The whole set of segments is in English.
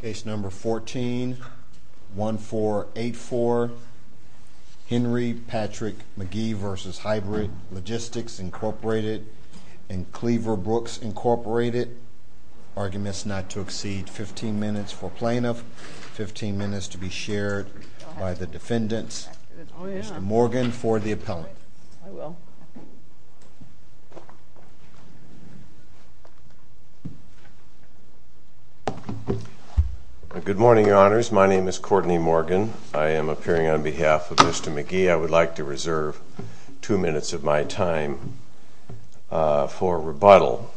Case number 141484 Henry Patrick McGhee v. Hybrid Logistics, Inc. and Cleaver Brooks, Inc. Arguments not to exceed 15 minutes for plaintiff, 15 minutes to be shared by the defendants. Mr. Morgan for the appellant. Good morning, Your Honors. My name is Courtney Morgan. I am appearing on behalf of Mr. McGhee. I would like to reserve two minutes of my time for rebuttal.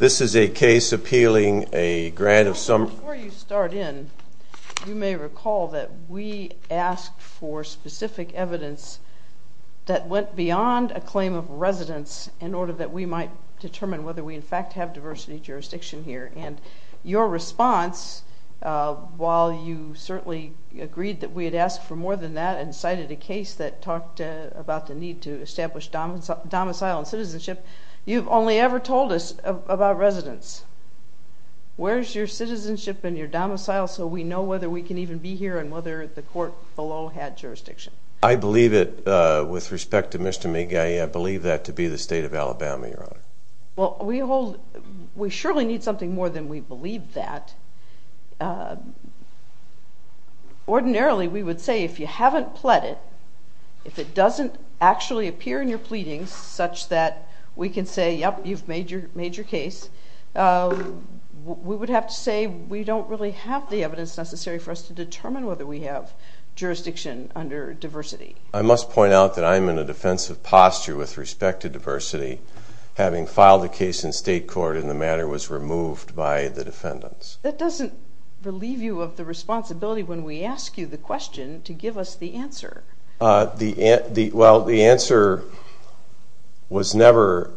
This is a case appealing a grant of some... Before you start in, you may recall that we asked for specific evidence that went beyond a claim of residence in order that we might determine whether we in fact have diversity of jurisdiction here. And your response, while you certainly agreed that we had asked for more than that and cited a case that talked about the need to establish domicile and citizenship, you've only ever told us about residence. Where's your citizenship and your domicile so we know whether we can even be here and whether the court below had jurisdiction? I believe it, with respect to Mr. McGhee, I believe that to be the state of Alabama, Your Honor. Well, we hold... We surely need something more than we believe that. Ordinarily, we would say if you haven't pled it, if it doesn't actually appear in your pleadings such that we can say, yep, you've made your case, we would have to say we don't really have the evidence necessary for us to determine whether we have jurisdiction under diversity. I must point out that I'm in a defensive posture with respect to diversity, having filed a case in state court and the matter was removed by the defendants. That doesn't relieve you of the responsibility when we ask you the question to give us the answer. Well, the answer was never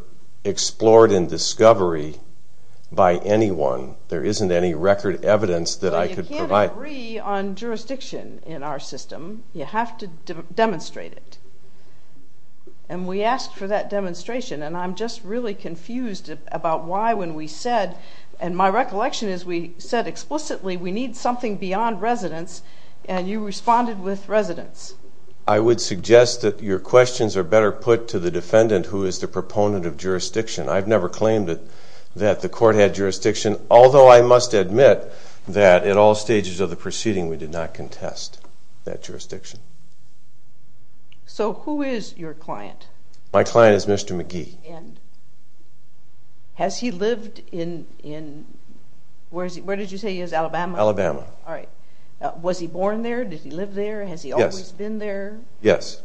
explored in discovery by anyone. There isn't any record evidence that I could provide. So you can't agree on jurisdiction in our system. You have to demonstrate it. And we asked for that demonstration and I'm just really confused about why when we said, and my recollection is we said explicitly we need something beyond residence and you responded with residence. I would suggest that your questions are better put to the defendant who is the proponent of jurisdiction. I've never claimed that the court had jurisdiction, although I must admit that at all stages of the proceeding we did not contest that jurisdiction. So who is your client? My client is Mr. McGee. Has he lived in, where did you say he is, Alabama? Alabama. Was he born there? Did he live there? Has he always been there? Yes.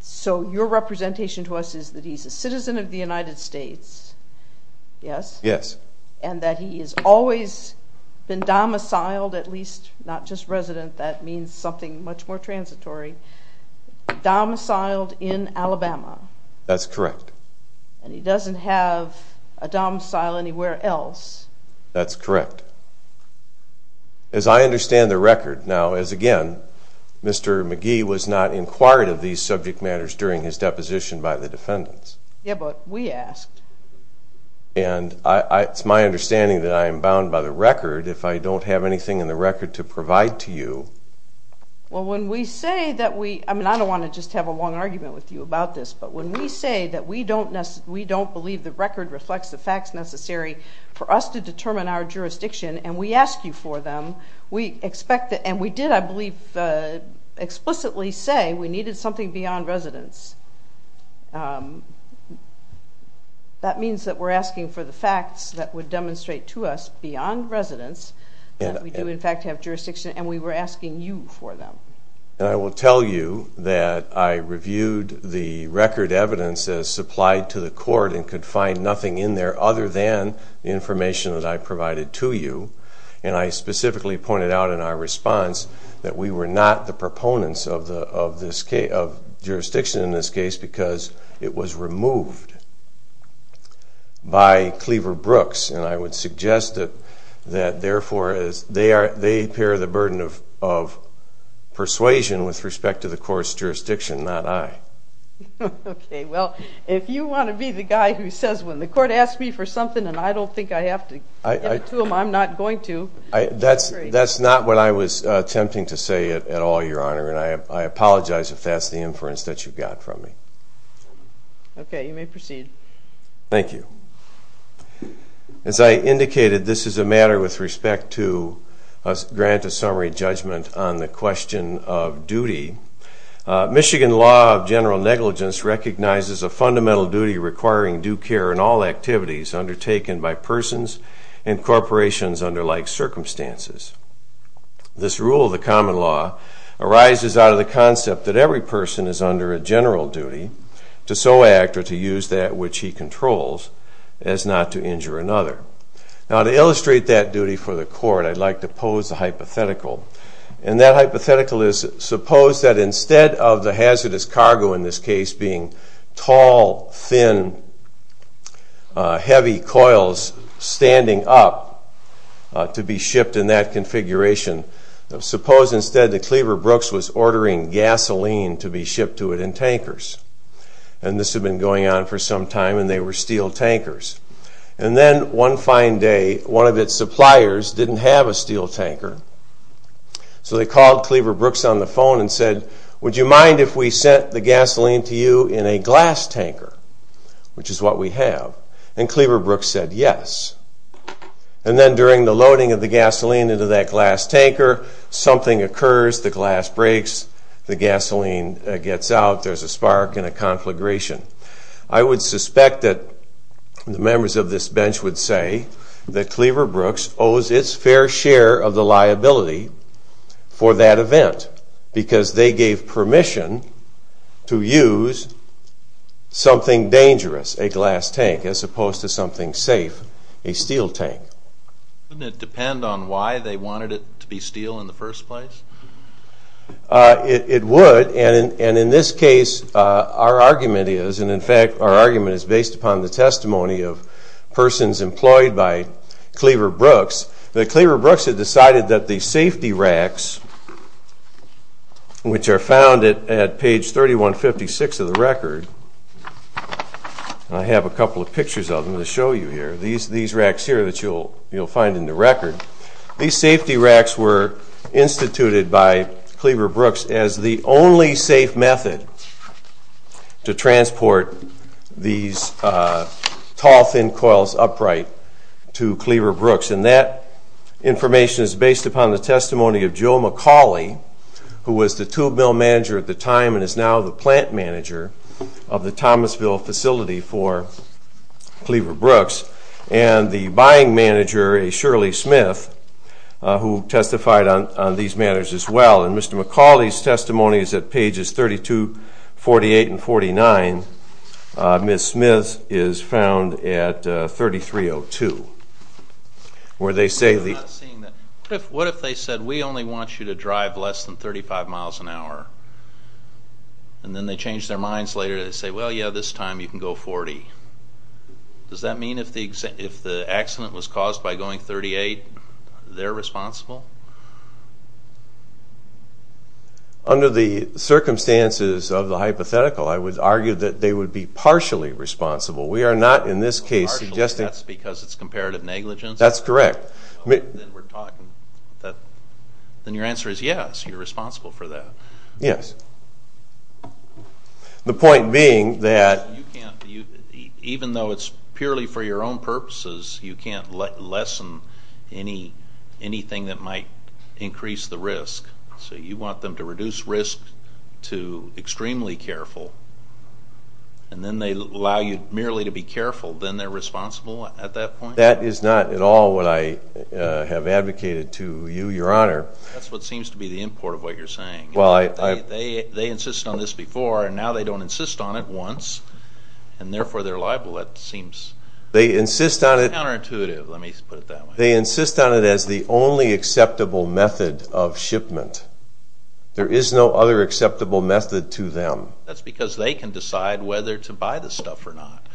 So your representation to us is that he's a citizen of the United States, yes? Yes. And that he has always been domiciled, at least not just resident, that means something much more transitory, domiciled in Alabama. That's correct. And he doesn't have a domicile anywhere else. That's correct. As I understand the record, now as again, Mr. McGee was not inquired of these subject matters during his deposition by the defendants. Yeah, but we asked. And it's my understanding that I am bound by the record if I don't have anything in the record to provide to you. Well, when we say that we, I mean I don't want to just have a long argument with you about this, but when we say that we don't believe the record reflects the facts necessary for us to determine our jurisdiction, and we ask you for them, we expect that, and we did I believe explicitly say we needed something beyond residence. That means that we're asking for the facts that would demonstrate to us beyond residence that we do in fact have jurisdiction, and we were asking you for them. And I will tell you that I reviewed the record evidence as supplied to the court and could find nothing in there other than the information that I provided to you. And I specifically pointed out in our response that we were not the proponents of jurisdiction in this case because it was removed by Cleaver Brooks, and I would suggest that therefore they bear the burden of persuasion with respect to the court's jurisdiction, not I. Okay, well, if you want to be the guy who says when the court asks me for something and I don't think I have to give it to them, I'm not going to. That's not what I was attempting to say at all, Your Honor, and I apologize if that's the inference that you got from me. Okay, you may proceed. Thank you. As I indicated, this is a matter with respect to grant a summary judgment on the question of due care in all activities undertaken by persons and corporations under like circumstances. This rule of the common law arises out of the concept that every person is under a general duty to so act or to use that which he controls as not to injure another. Now, to illustrate that duty for the court, I'd like to pose a hypothetical, and that hypothetical is suppose that instead of the hazardous cargo in this case being tall, thin, heavy coils standing up to be shipped in that configuration, suppose instead that Cleaver Brooks was ordering gasoline to be shipped to it in tankers, and this had been going on for some time and they were steel tankers. And then one fine day, one of its suppliers didn't have a steel tanker, so they called Cleaver Brooks on the phone and said, Would you mind if we sent the gasoline to you in a glass tanker, which is what we have, and Cleaver Brooks said yes. And then during the loading of the gasoline into that glass tanker, something occurs, the glass breaks, the gasoline gets out, there's a spark and a conflagration. I would suspect that the members of this bench would say that Cleaver Brooks owes its fair share of the liability for that event because they gave permission to use something dangerous, a glass tank, as opposed to something safe, a steel tank. Wouldn't it depend on why they wanted it to be steel in the first place? It would, and in this case our argument is, and in fact our argument is based upon the argument of persons employed by Cleaver Brooks, that Cleaver Brooks had decided that the safety racks, which are found at page 3156 of the record, and I have a couple of pictures of them to show you here, these racks here that you'll find in the record, these safety racks were instituted by Cleaver Brooks as the only safe method to transport these tall things coils upright to Cleaver Brooks, and that information is based upon the testimony of Joe McCauley, who was the tube mill manager at the time and is now the plant manager of the Thomasville facility for Cleaver Brooks, and the buying manager, a Shirley Smith, who testified on these matters as well, and Mr. McCauley's testimony is at pages 32, 48, and 33, 02, where they say the... What if they said, we only want you to drive less than 35 miles an hour, and then they change their minds later and they say, well yeah, this time you can go 40. Does that mean if the accident was caused by going 38, they're responsible? Under the circumstances of the hypothetical, I would argue that they would be partially responsible. We are not in this case suggesting... Partially, that's because it's comparative negligence? That's correct. Then we're talking, then your answer is yes, you're responsible for that. The point being that... Even though it's purely for your own purposes, you can't lessen anything that might increase the risk, so you want them to reduce risk to extremely careful, and then they allow you merely to be careful, then they're responsible at that point? That is not at all what I have advocated to you, your honor. That's what seems to be the import of what you're saying. They insist on this before, and now they don't insist on it once, and therefore they're liable. That seems... They insist on it... Counterintuitive, let me put it that way. They insist on it as the only acceptable method of shipment. There is no other acceptable method to them. That's because they can decide whether to buy the stuff or not.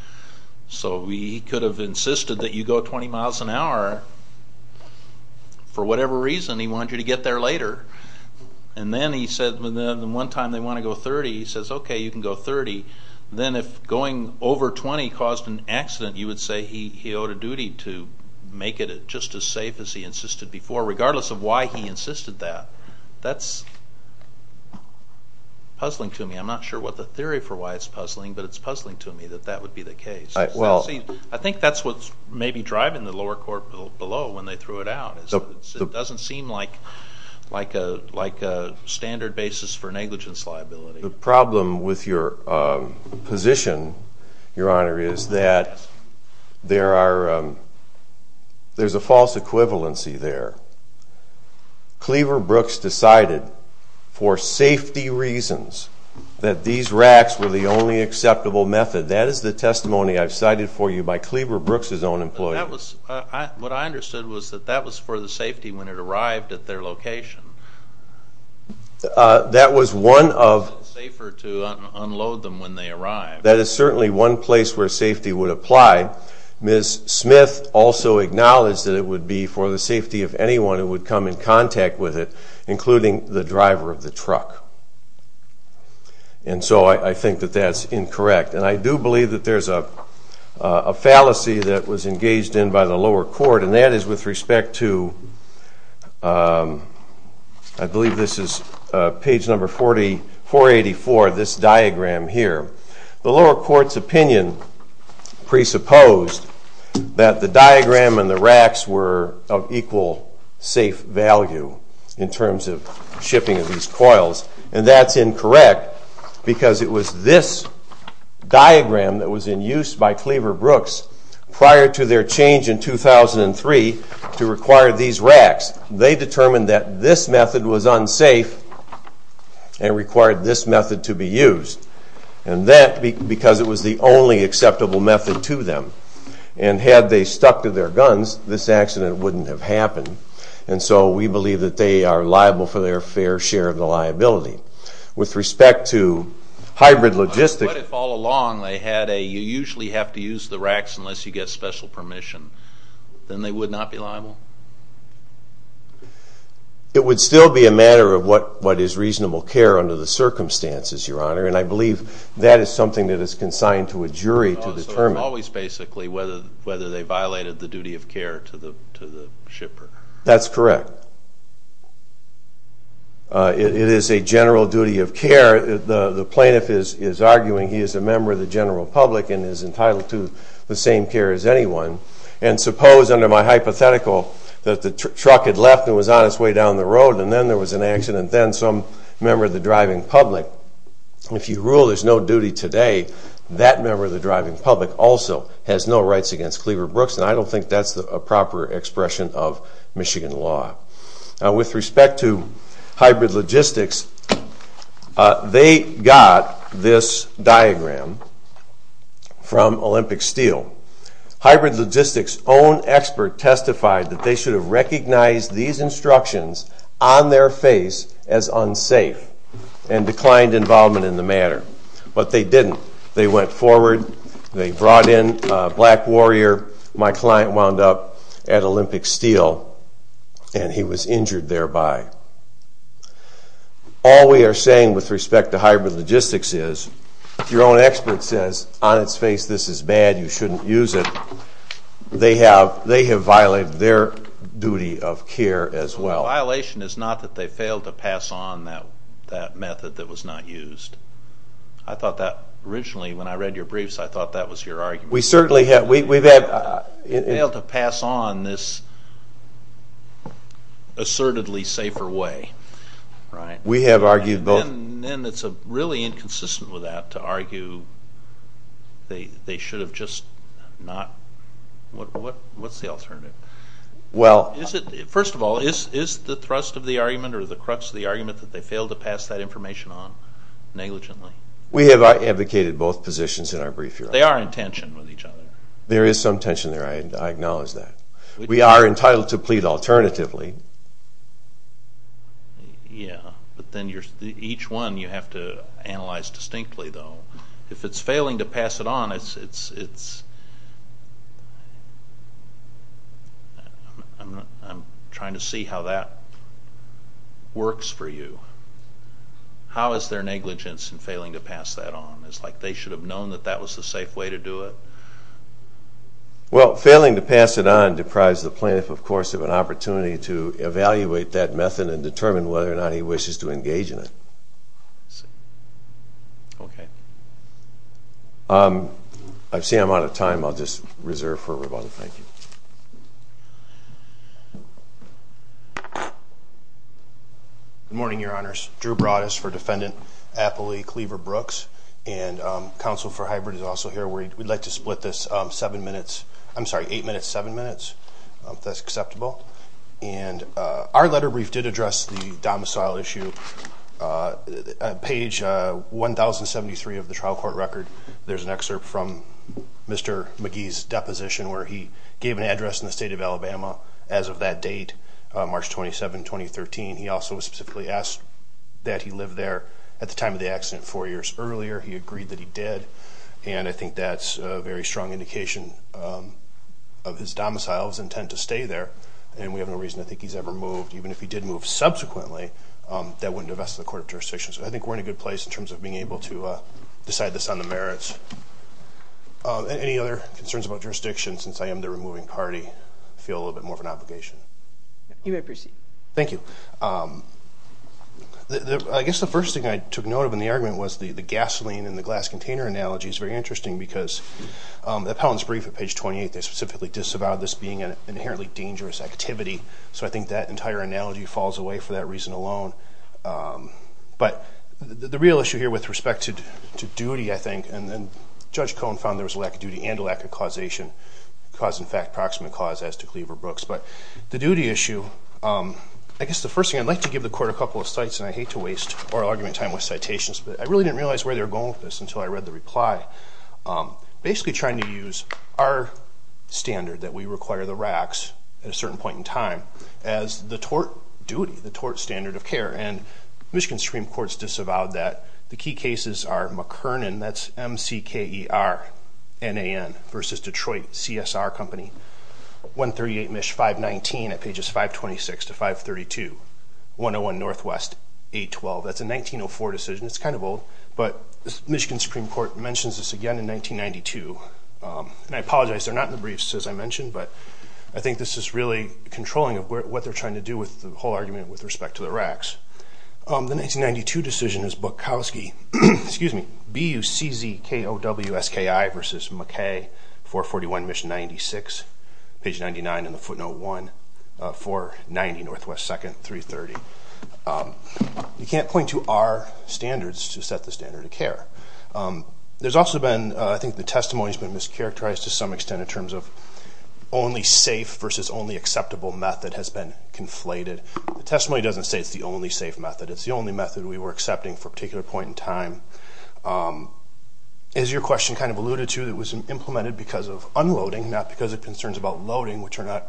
So he could have insisted that you go 20 miles an hour for whatever reason, he wanted you to get there later. And then he said, one time they want to go 30, he says, okay, you can go 30. Then if going over 20 caused an accident, you would say he owed a duty to make it just as safe as he insisted before, regardless of why he insisted that. That's puzzling to me. I'm not sure what the theory for why it's puzzling, but it's puzzling to me that that would be the case. I think that's what's maybe driving the lower court below when they threw it out. It doesn't seem like a standard basis for negligence liability. The problem with your position, Your Honor, is that there's a false equivalency there. Cleaver Brooks decided, for safety reasons, that these racks were the only acceptable method. That is the testimony I've cited for you by Cleaver Brooks' own employees. What I understood was that that was for the safety when it arrived at their location. That was one of... Was it safer to unload them when they arrived? That is certainly one place where safety would apply. Ms. Smith also acknowledged that it would be for the safety of anyone who would come in contact with it, including the driver of the truck. And so I think that that's incorrect. And I do believe that there's a fallacy that was engaged in by the lower court, and that is with respect to, I believe this is page number 484, this diagram here. The lower court's opinion presupposed that the diagram and the racks were of equal safe value in terms of shipping of these coils. And that's incorrect because it was this diagram that was in use by Cleaver Brooks prior to their change in 2003 to require these racks. They determined that this method was unsafe and required this method to be used. And that because it was the only acceptable method to them. And had they stuck to their guns, this accident wouldn't have happened. And so we believe that they are liable for their fair share of the liability. With respect to hybrid logistics... But if all along they had a, you usually have to use the racks unless you get special permission, then they would not be liable? It would still be a matter of what is reasonable care under the circumstances, Your Honor. And I believe that is something that is consigned to a jury to determine. So it's always basically whether they violated the duty of care to the shipper. That's correct. It is a general duty of care. The plaintiff is arguing he is a member of the general public and is entitled to the same care as anyone. And suppose under my hypothetical that the truck had left and was on its way down the road and then there was an accident and then some member of the driving public, if you rule there's no duty today, that member of the driving public also has no rights against Cleaver Brooks. And I don't think that's a proper expression of Michigan law. With respect to hybrid logistics, they got this diagram from Olympic Steel. Hybrid logistics own expert testified that they should have recognized these instructions on their face as unsafe and declined involvement in the matter. But they didn't. They went forward, they brought in a black warrior, my client wound up at Olympic Steel and he was injured thereby. All we are saying with respect to hybrid logistics is your own expert says on its face this is bad, you shouldn't use it. They have violated their duty of care as well. Violation is not that they failed to pass on that method that was not used. I thought that originally when I read your briefs, I thought that was your argument. We certainly have. They failed to pass on this assertedly safer way. We have argued both. And it's really inconsistent with that to argue they should have just not. What's the alternative? First of all, is the thrust of the argument or the crux of the argument that they failed to pass that information on negligently? We have advocated both positions in our brief. They are in tension with each other. There is some tension there, I acknowledge that. We are entitled to plead alternatively. Yeah, but then each one you have to analyze distinctly though. If it's failing to pass it on, I'm trying to see how that works for you. How is there negligence in failing to pass that on? Is it like they should have known that that was the safe way to do it? Well, failing to pass it on deprives the plaintiff of course of an opportunity to evaluate that method and determine whether or not he wishes to engage in it. I see I'm out of time. I'll just reserve for rebuttal. Thank you. Good morning. My name is Jim Harris for Defendant Apley Cleaver-Brooks. And counsel for hybrid is also here. We'd like to split this eight minutes, seven minutes, if that's acceptable. Our letter brief did address the domicile issue. On page 1073 of the trial court record, there's an excerpt from Mr. McGee's deposition where he gave an address in the state of Alabama as of that date, March 27, 2013. He also specifically asked that he live there at the time of the accident four years earlier. He agreed that he did. And I think that's a very strong indication of his domicile, his intent to stay there. And we have no reason to think he's ever moved. Even if he did move subsequently, that wouldn't invest in the court of jurisdiction. So I think we're in a good place in terms of being able to decide this on the merits. Any other concerns about jurisdiction, since I am the removing party, I feel a little bit more of an obligation. You may proceed. Thank you. I guess the first thing I took note of in the argument was the gasoline and the glass container analogy is very interesting because the appellant's brief at page 28, they specifically disavowed this being an inherently dangerous activity. So I think that entire analogy falls away for that reason alone. But the real issue here with respect to duty, I think, and Judge Cohen found there was a lack of duty and a lack of causation, cause in fact, proximate cause as to Cleaver Brooks. But the duty issue, I guess the first thing I'd like to give the court a couple of sites, and I hate to waste oral argument time with citations, but I really didn't realize where they were going with this until I read the reply. Basically trying to use our standard that we require the ROCs at a certain point in time as the tort duty, the tort standard of care. And Michigan Supreme Court's disavowed that. The key cases are McKernan, that's M-C-K-E-R-N-A-N versus Detroit CSR Company, 138 MISH 519 at pages 526 to 532, 101 Northwest 812. That's a 1904 decision. It's kind of old, but Michigan Supreme Court mentions this again in 1992. And I apologize, they're not in the briefs as I mentioned, but I think this is really controlling of what they're trying to do with the whole argument with respect to the racks. The 1992 decision is Bukowski, excuse me, B-U-C-Z-K-O-W-S-K-I versus McKay, 441 MISH 96, page 99 in the footnote 1, 490 Northwest 2nd, 330. You can't point to our standards to set the standard of care. There's also been, I think the testimony has been mischaracterized to some extent in only safe versus only acceptable method has been conflated. The testimony doesn't say it's the only safe method. It's the only method we were accepting for a particular point in time. As your question kind of alluded to, it was implemented because of unloading, not because of concerns about loading, which are not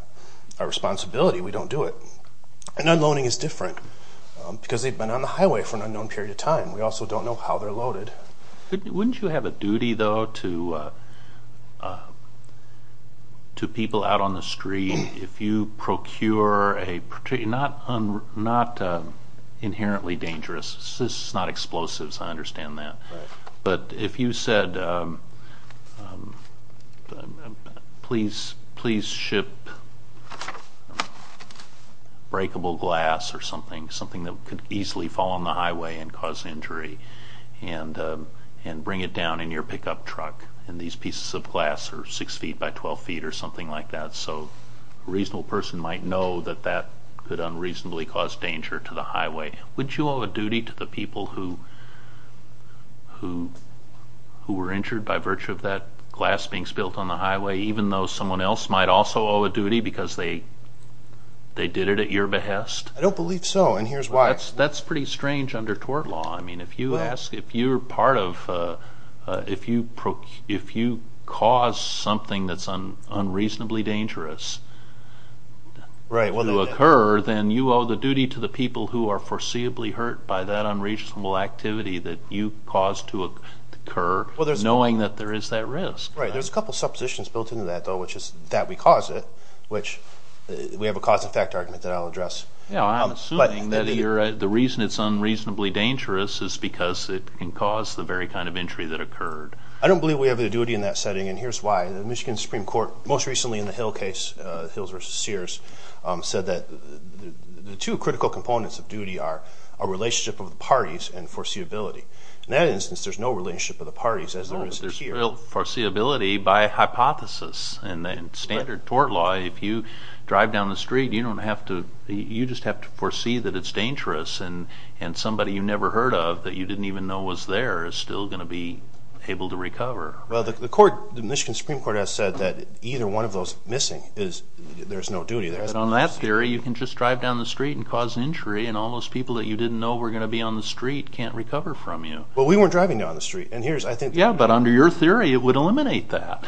our responsibility. We don't do it. And unloading is different because they've been on the highway for an unknown period of time. We also don't know how they're loaded. Wouldn't you have a duty, though, to people out on the street if you procure a, not inherently dangerous, this is not explosives, I understand that, but if you said, please ship breakable glass or something that could easily fall on the highway and cause injury and bring it down in your pickup truck, and these pieces of glass are 6 feet by 12 feet or something like that, so a reasonable person might know that that could unreasonably cause danger to the highway, would you owe a duty to the people who were injured by virtue of that glass being spilled on the highway, even though someone else might also owe a duty because they did it at your behest? I don't believe so, and here's why. That's pretty strange under tort law. I mean, if you ask, if you're part of, if you cause something that's unreasonably dangerous to occur, then you owe the duty to the people who are foreseeably hurt by that unreasonable activity that you caused to occur, knowing that there is that risk. Right. There's a couple of suppositions built into that, though, which is that we cause it, which we have a cause and effect argument that I'll address. Yeah, I'm assuming that the reason it's unreasonably dangerous is because it can cause the very kind of injury that occurred. I don't believe we have a duty in that setting, and here's why. The Michigan Supreme Court, most recently in the Hill case, Hills v. Sears, said that the two critical components of duty are a relationship of the parties and foreseeability. In that instance, there's no relationship of the parties, as there is here. Well, foreseeability by hypothesis. In standard tort law, if you drive down the street, you don't have to, you just have to foresee that it's dangerous, and somebody you never heard of that you didn't even know was there is still going to be able to recover. Well, the court, the Michigan Supreme Court has said that either one of those missing is, there's no duty there. But on that theory, you can just drive down the street and cause an injury, and all those people that you didn't know were going to be on the street can't recover from you. Well, we weren't driving down the street, and here's, I think... Yeah, but under your theory, it would eliminate that.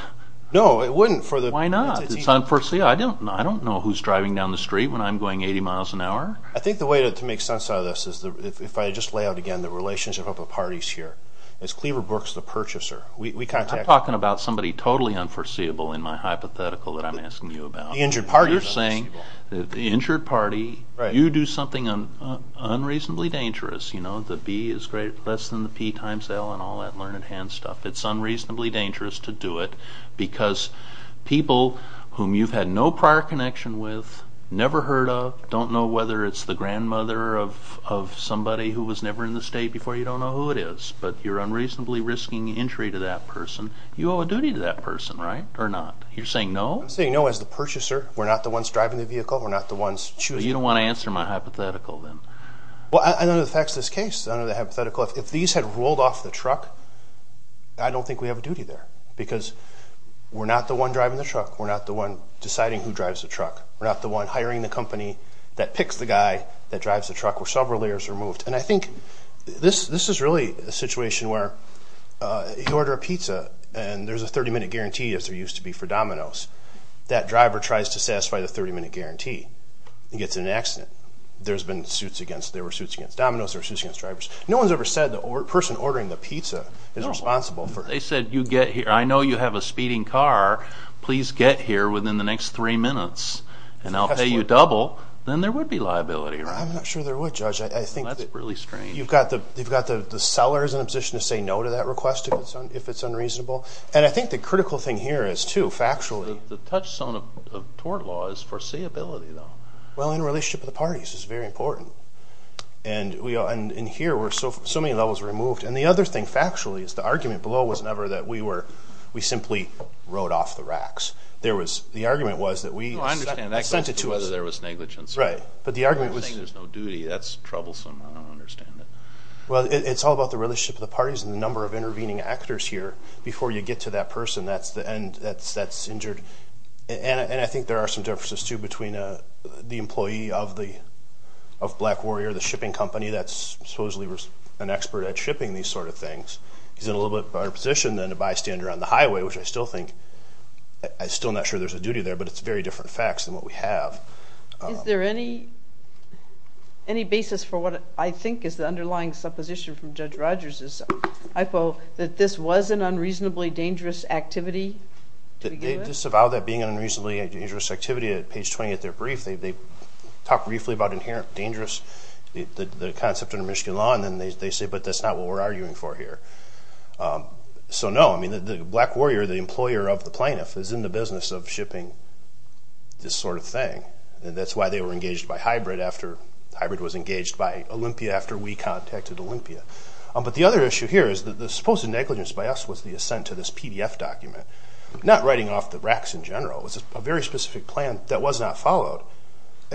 No, it wouldn't for the... Why not? It's unforeseeable. I don't know who's driving down the street when I'm going 80 miles an hour. I think the way to make sense out of this is, if I just lay out again, the relationship of the parties here. It's Cleaver Brooks, the purchaser. We contact... I'm talking about somebody totally unforeseeable in my hypothetical that I'm asking you about. The injured party is unforeseeable. You're saying that the injured party, you do something unreasonably dangerous, you know, the B is less than the P times L and all that learned hand stuff. It's unreasonably dangerous to do it because people whom you've had no prior connection with, never heard of, don't know whether it's the grandmother of somebody who was never in the state before, you don't know who it is. But you're unreasonably risking injury to that person. You owe a duty to that person, right, or not? You're saying no? I'm saying no as the purchaser. We're not the ones driving the vehicle. We're not the ones choosing... Well, you don't want to answer my hypothetical, then. Well, none of the facts of this case, none of the hypothetical. If these had rolled off the truck, I don't think we have a duty there because we're not the one driving the truck. We're not the one deciding who drives the truck. We're not the one hiring the company that picks the guy that drives the truck with several layers removed. And I think this is really a situation where you order a pizza and there's a 30-minute guarantee, as there used to be for Domino's. That driver tries to satisfy the 30-minute guarantee. He gets an accident. There's been suits against... There were suits against Domino's. There were suits against drivers. No one's ever said the person ordering the pizza is responsible for... They said, you get here. I know you have a speeding car. Please get here within the next three minutes and I'll pay you double. Then there would be liability, right? I'm not sure there would, Judge. I think that... That's really strange. You've got the sellers in a position to say no to that request if it's unreasonable. And I think the critical thing here is, too, factually... The touchstone of tort law is foreseeability, though. Well, in a relationship with the parties, it's very important. And here, so many levels were removed. And the other thing, factually, is the argument below was never that we were... We simply rode off the racks. There was... The argument was that we... No, I understand that. ...sent it to us. Whether there was negligence. Right. But the argument was... You're saying there's no duty. That's troublesome. I don't understand it. Well, it's all about the relationship with the parties and the number of intervening actors here. Before you get to that person, that's injured. And I think there are some differences, too, between the employee of Black Warrior, the shipping company that's supposedly an expert at shipping these sort of things. He's in a little bit better position than a bystander on the highway, which I still think... I'm still not sure there's a duty there, but it's very different facts than what we have. Is there any basis for what I think is the underlying supposition from Judge Rogers' hypo that this was an unreasonably dangerous activity to begin with? They disavow that being an unreasonably dangerous activity. At page 20 of their brief, they talk briefly about inherent dangerous, the concept under Michigan law, and then they say, but that's not what we're arguing for here. So, no. I mean, the Black Warrior, the employer of the plaintiff, is in the business of shipping this sort of thing. And that's why they were engaged by Hybrid after... Hybrid was engaged by Olympia after we contacted Olympia. But the other issue here is that the supposed negligence by us was the assent to this PDF document, not writing off the racks in general. It was a very specific plan that was not followed.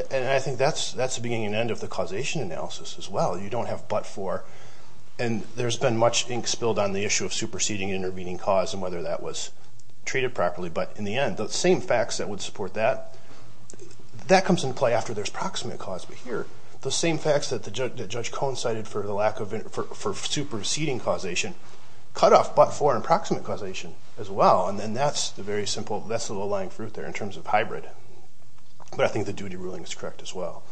And I think that's the beginning and end of the causation analysis as well. You don't have but for, and there's been much ink spilled on the issue of superseding and intervening cause and whether that was treated properly. But in the end, the same facts that would support that, that comes into play after there's proximate cause. But here, the same facts that Judge Cohen cited for the lack of... for superseding causation cut off but for approximate causation as well. And then that's the very simple, that's the low-lying fruit there in terms of Hybrid. But I think the duty ruling is correct as well.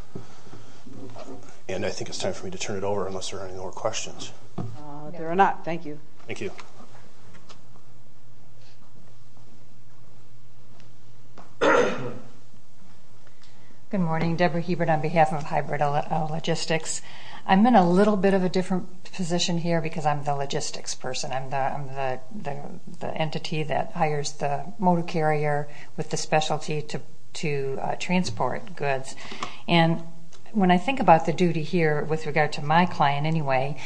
And I think it's time for me to turn it over unless there are any more questions. There are not. Thank you. Thank you. Good morning. Deborah Hebert on behalf of Hybrid Logistics. I'm in a little bit of a different position here because I'm the logistics person. I'm the entity that hires the motor carrier with the specialty to transport goods. And when I think about the duty here with regard to my client anyway,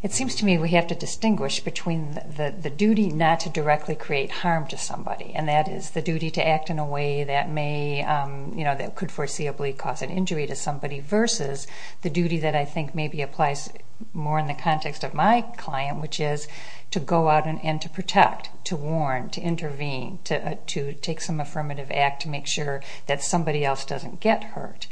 it seems to me we have to distinguish between the duty not to directly create harm to somebody. And that is the duty to act in a way that may, that could foreseeably cause an injury to somebody versus the duty that I think maybe applies more in the context of my client, which is to go out and to protect, to warn, to intervene, to take some affirmative act to make sure that somebody else doesn't get hurt.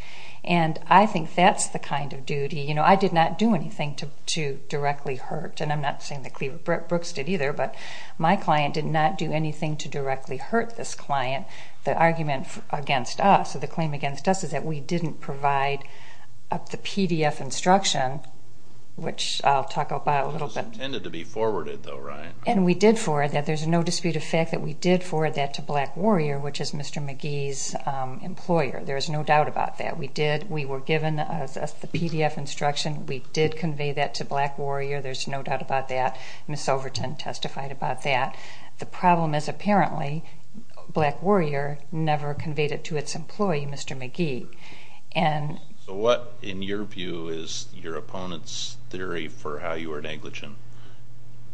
And I think that's the kind of duty. You know, I did not do anything to directly hurt. And I'm not saying that Cleaver Brooks did either, but my client did not do anything to directly hurt this client. The argument against us, or the claim against us, is that we didn't provide the PDF instruction, which I'll talk about a little bit. It was intended to be forwarded though, right? And we did forward that. There's no dispute of fact that we did forward that to Black Warrior, which is Mr. McGee's employer. There is no doubt about that. We did, we were given the PDF instruction. We did convey that to Black Warrior. There's no doubt about that. Ms. Overton testified about that. The problem is apparently Black Warrior never conveyed it to its employee, Mr. McGee. So what, in your view, is your opponent's theory for how you were negligent?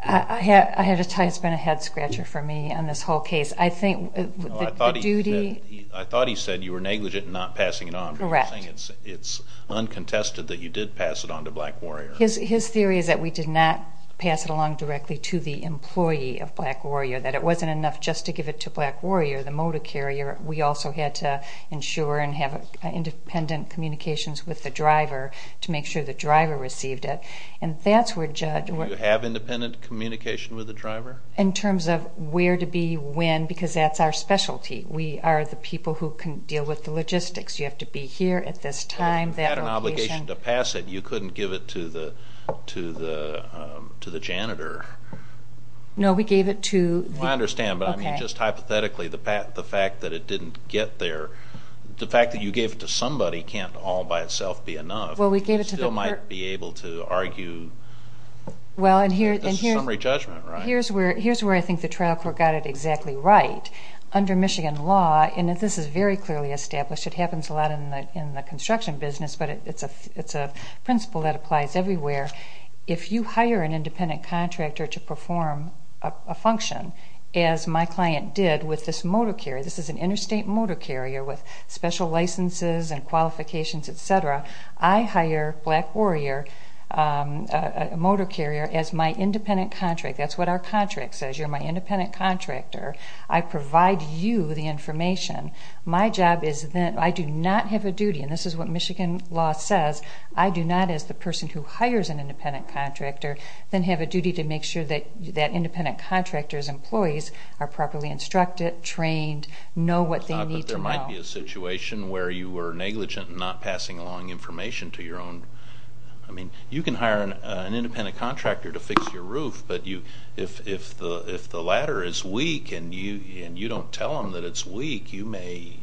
I have to tell you, it's been a head-scratcher for me on this whole case. I think the duty... No, I thought he said you were negligent in not passing it on. Correct. But you're saying it's uncontested that you did pass it on to Black Warrior. His theory is that we did not pass it along directly to the employee of Black Warrior, that it wasn't enough just to give it to Black Warrior, the motor carrier. We also had to ensure and have independent communications with the driver to make sure the driver received it. And that's where Judge... Do you have independent communication with the driver? In terms of where to be, when, because that's our specialty. We are the people who can deal with the logistics. You have to be here at this time, that location. To pass it, you couldn't give it to the janitor. No, we gave it to... I understand, but I mean, just hypothetically, the fact that it didn't get there, the fact that you gave it to somebody can't all by itself be enough. Well, we gave it to the... You still might be able to argue that this is summary judgment, right? Here's where I think the trial court got it exactly right. Under Michigan law, and this is very clearly established, it happens a lot in the construction business, but it's a principle that applies everywhere. If you hire an independent contractor to perform a function as my client did with this motor carrier, this is an interstate motor carrier with special licenses and qualifications, et cetera, I hire Black Warrior motor carrier as my independent contract. That's what our contract says. You're my independent contractor. I provide you the information. My job is that I do not have a duty, and this is what Michigan law says, I do not, as the person who hires an independent contractor, then have a duty to make sure that independent contractors' employees are properly instructed, trained, know what they need to know. But there might be a situation where you were negligent in not passing along information to your own... I mean, you can hire an independent contractor to fix your roof, but if the ladder is weak and you don't tell them that it's weak, you may,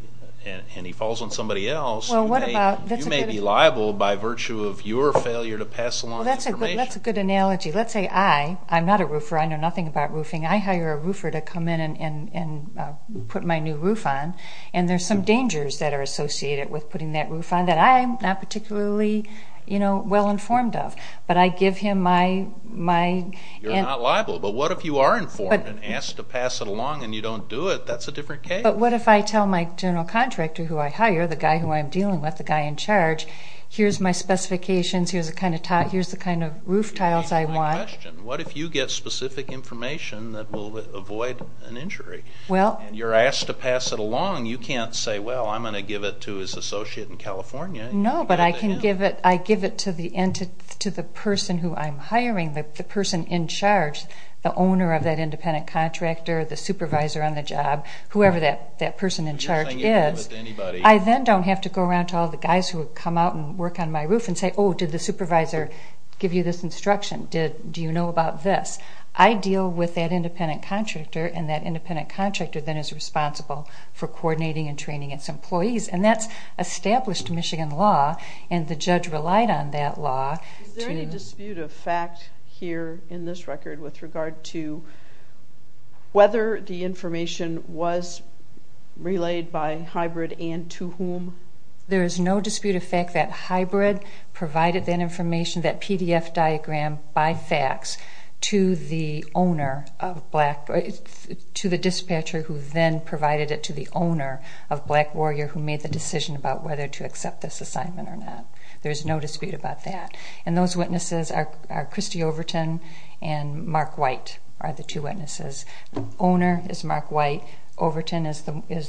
and he falls on somebody else, you may be liable by virtue of your failure to pass along information. Well, that's a good analogy. Let's say I'm not a roofer. I know nothing about roofing. I hire a roofer to come in and put my new roof on, and there's some dangers that are associated with putting that roof on that I'm not particularly well-informed of, but I give him my... You're not liable, but what if you are informed and asked to pass it along and you don't do it? That's a different case. But what if I tell my general contractor who I hire, the guy who I'm dealing with, the guy in charge, here's my specifications, here's the kind of roof tiles I want. What if you get specific information that will avoid an injury? You're asked to pass it along. You can't say, well, I'm going to give it to his associate in California. No, but I give it to the person who I'm hiring, the person in charge, the owner of that independent contractor, the supervisor on the job, whoever that person in charge is. I then don't have to go around to all the guys who come out and work on my roof and say, oh, did the supervisor give you this instruction? Do you know about this? I deal with that independent contractor, and that independent contractor then is responsible for coordinating and training its employees. And that's established Michigan law, and the judge relied on that law. Is there any dispute of fact here in this record with regard to whether the information was relayed by HYBRD and to whom? There is no dispute of fact that HYBRD provided that information, that PDF diagram by fax to the dispatcher who then provided it to the owner of Black Warrior who made the decision about whether to accept this assignment or not. There is no dispute about that. And those witnesses are Christy Overton and Mark White are the two witnesses. The owner is Mark White. Overton is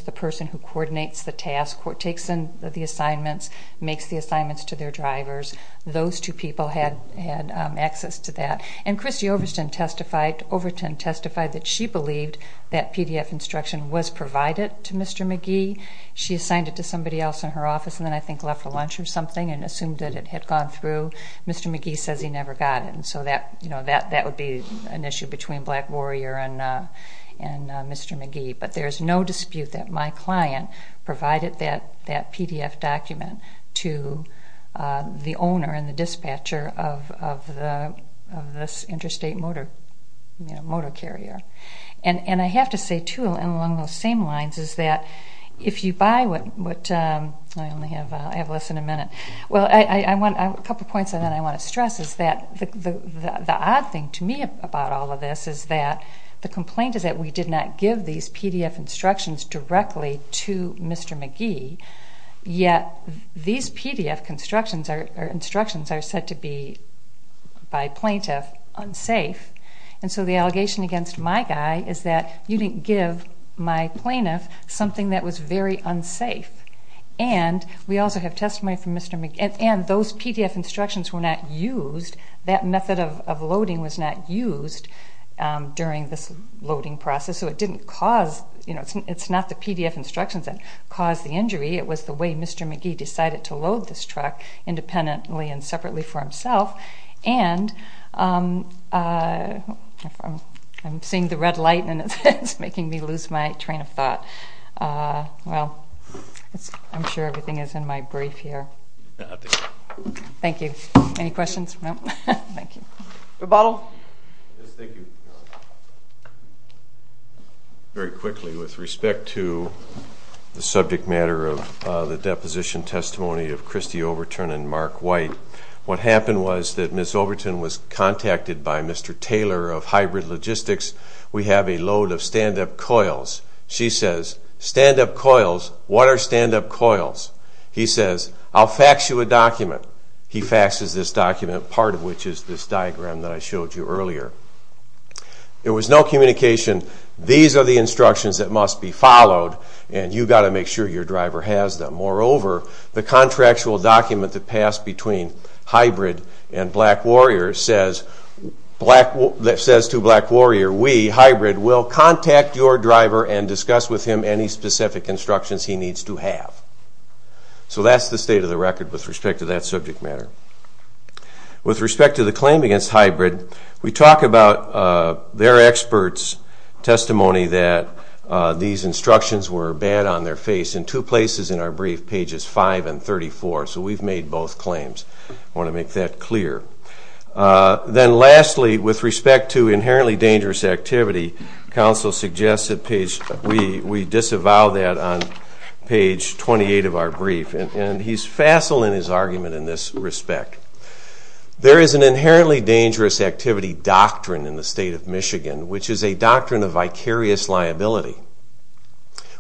the person who coordinates the task, takes in the assignments, makes the assignments to their drivers. Those two people had access to that. And Christy Overton testified that she believed that PDF instruction was provided to Mr. McGee. She assigned it to somebody else in her office and then I think left for lunch or something and assumed that it had gone through. Mr. McGee says he never got it. And so that would be an issue between Black Warrior and Mr. McGee. But there is no dispute that my client provided that PDF document to the owner and the dispatcher of this interstate motor carrier. And I have to say, too, along those same lines is that if you buy what I only have less than a minute. Well, a couple points that I want to stress is that the odd thing to me about all of this is that the complaint is that we did not give these PDF instructions directly to Mr. McGee, yet these PDF instructions are said to be, by plaintiff, unsafe. And so the allegation against my guy is that you didn't give my plaintiff something that was very unsafe. And we also have testimony from Mr. McGee. And those PDF instructions were not used. That method of loading was not used during this loading process. So it didn't cause, you know, it's not the PDF instructions that caused the injury. It was the way Mr. McGee decided to load this truck independently and separately for himself. And I'm seeing the red light, and it's making me lose my train of thought. Well, I'm sure everything is in my brief here. Thank you. Any questions? No? Thank you. Rebuttal? Yes, thank you. Very quickly, with respect to the subject matter of the deposition testimony of Christy Overton and Mark White, what happened was that Ms. Overton was contacted by Mr. Taylor of Hybrid Logistics. We have a load of stand-up coils. She says, stand-up coils? What are stand-up coils? He says, I'll fax you a document. He faxes this document, part of which is this diagram that I showed you earlier. There was no communication. These are the instructions that must be followed, and you've got to make sure your driver has them. Moreover, the contractual document that passed between Hybrid and Black Warrior says to Black Warrior, we, Hybrid, will contact your driver and discuss with him any specific instructions he needs to have. So that's the state of the record with respect to that subject matter. With respect to the claim against Hybrid, we talk about their experts' testimony that these instructions were bad on their face in two places in our brief, pages 5 and 34. So we've made both claims. I want to make that clear. Then lastly, with respect to inherently dangerous activity, counsel suggests that we disavow that on page 28 of our brief, and he's facile in his argument in this respect. There is an inherently dangerous activity doctrine in the state of Michigan, which is a doctrine of vicarious liability.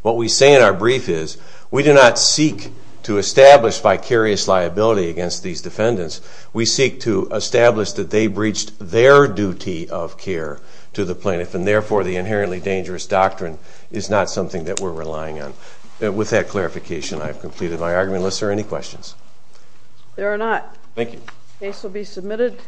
What we say in our brief is we do not seek to establish vicarious liability against these defendants. We seek to establish that they breached their duty of care to the plaintiff, and therefore the inherently dangerous doctrine is not something that we're relying on. With that clarification, I have completed my argument. Unless there are any questions. There are not. Thank you. The case will be submitted.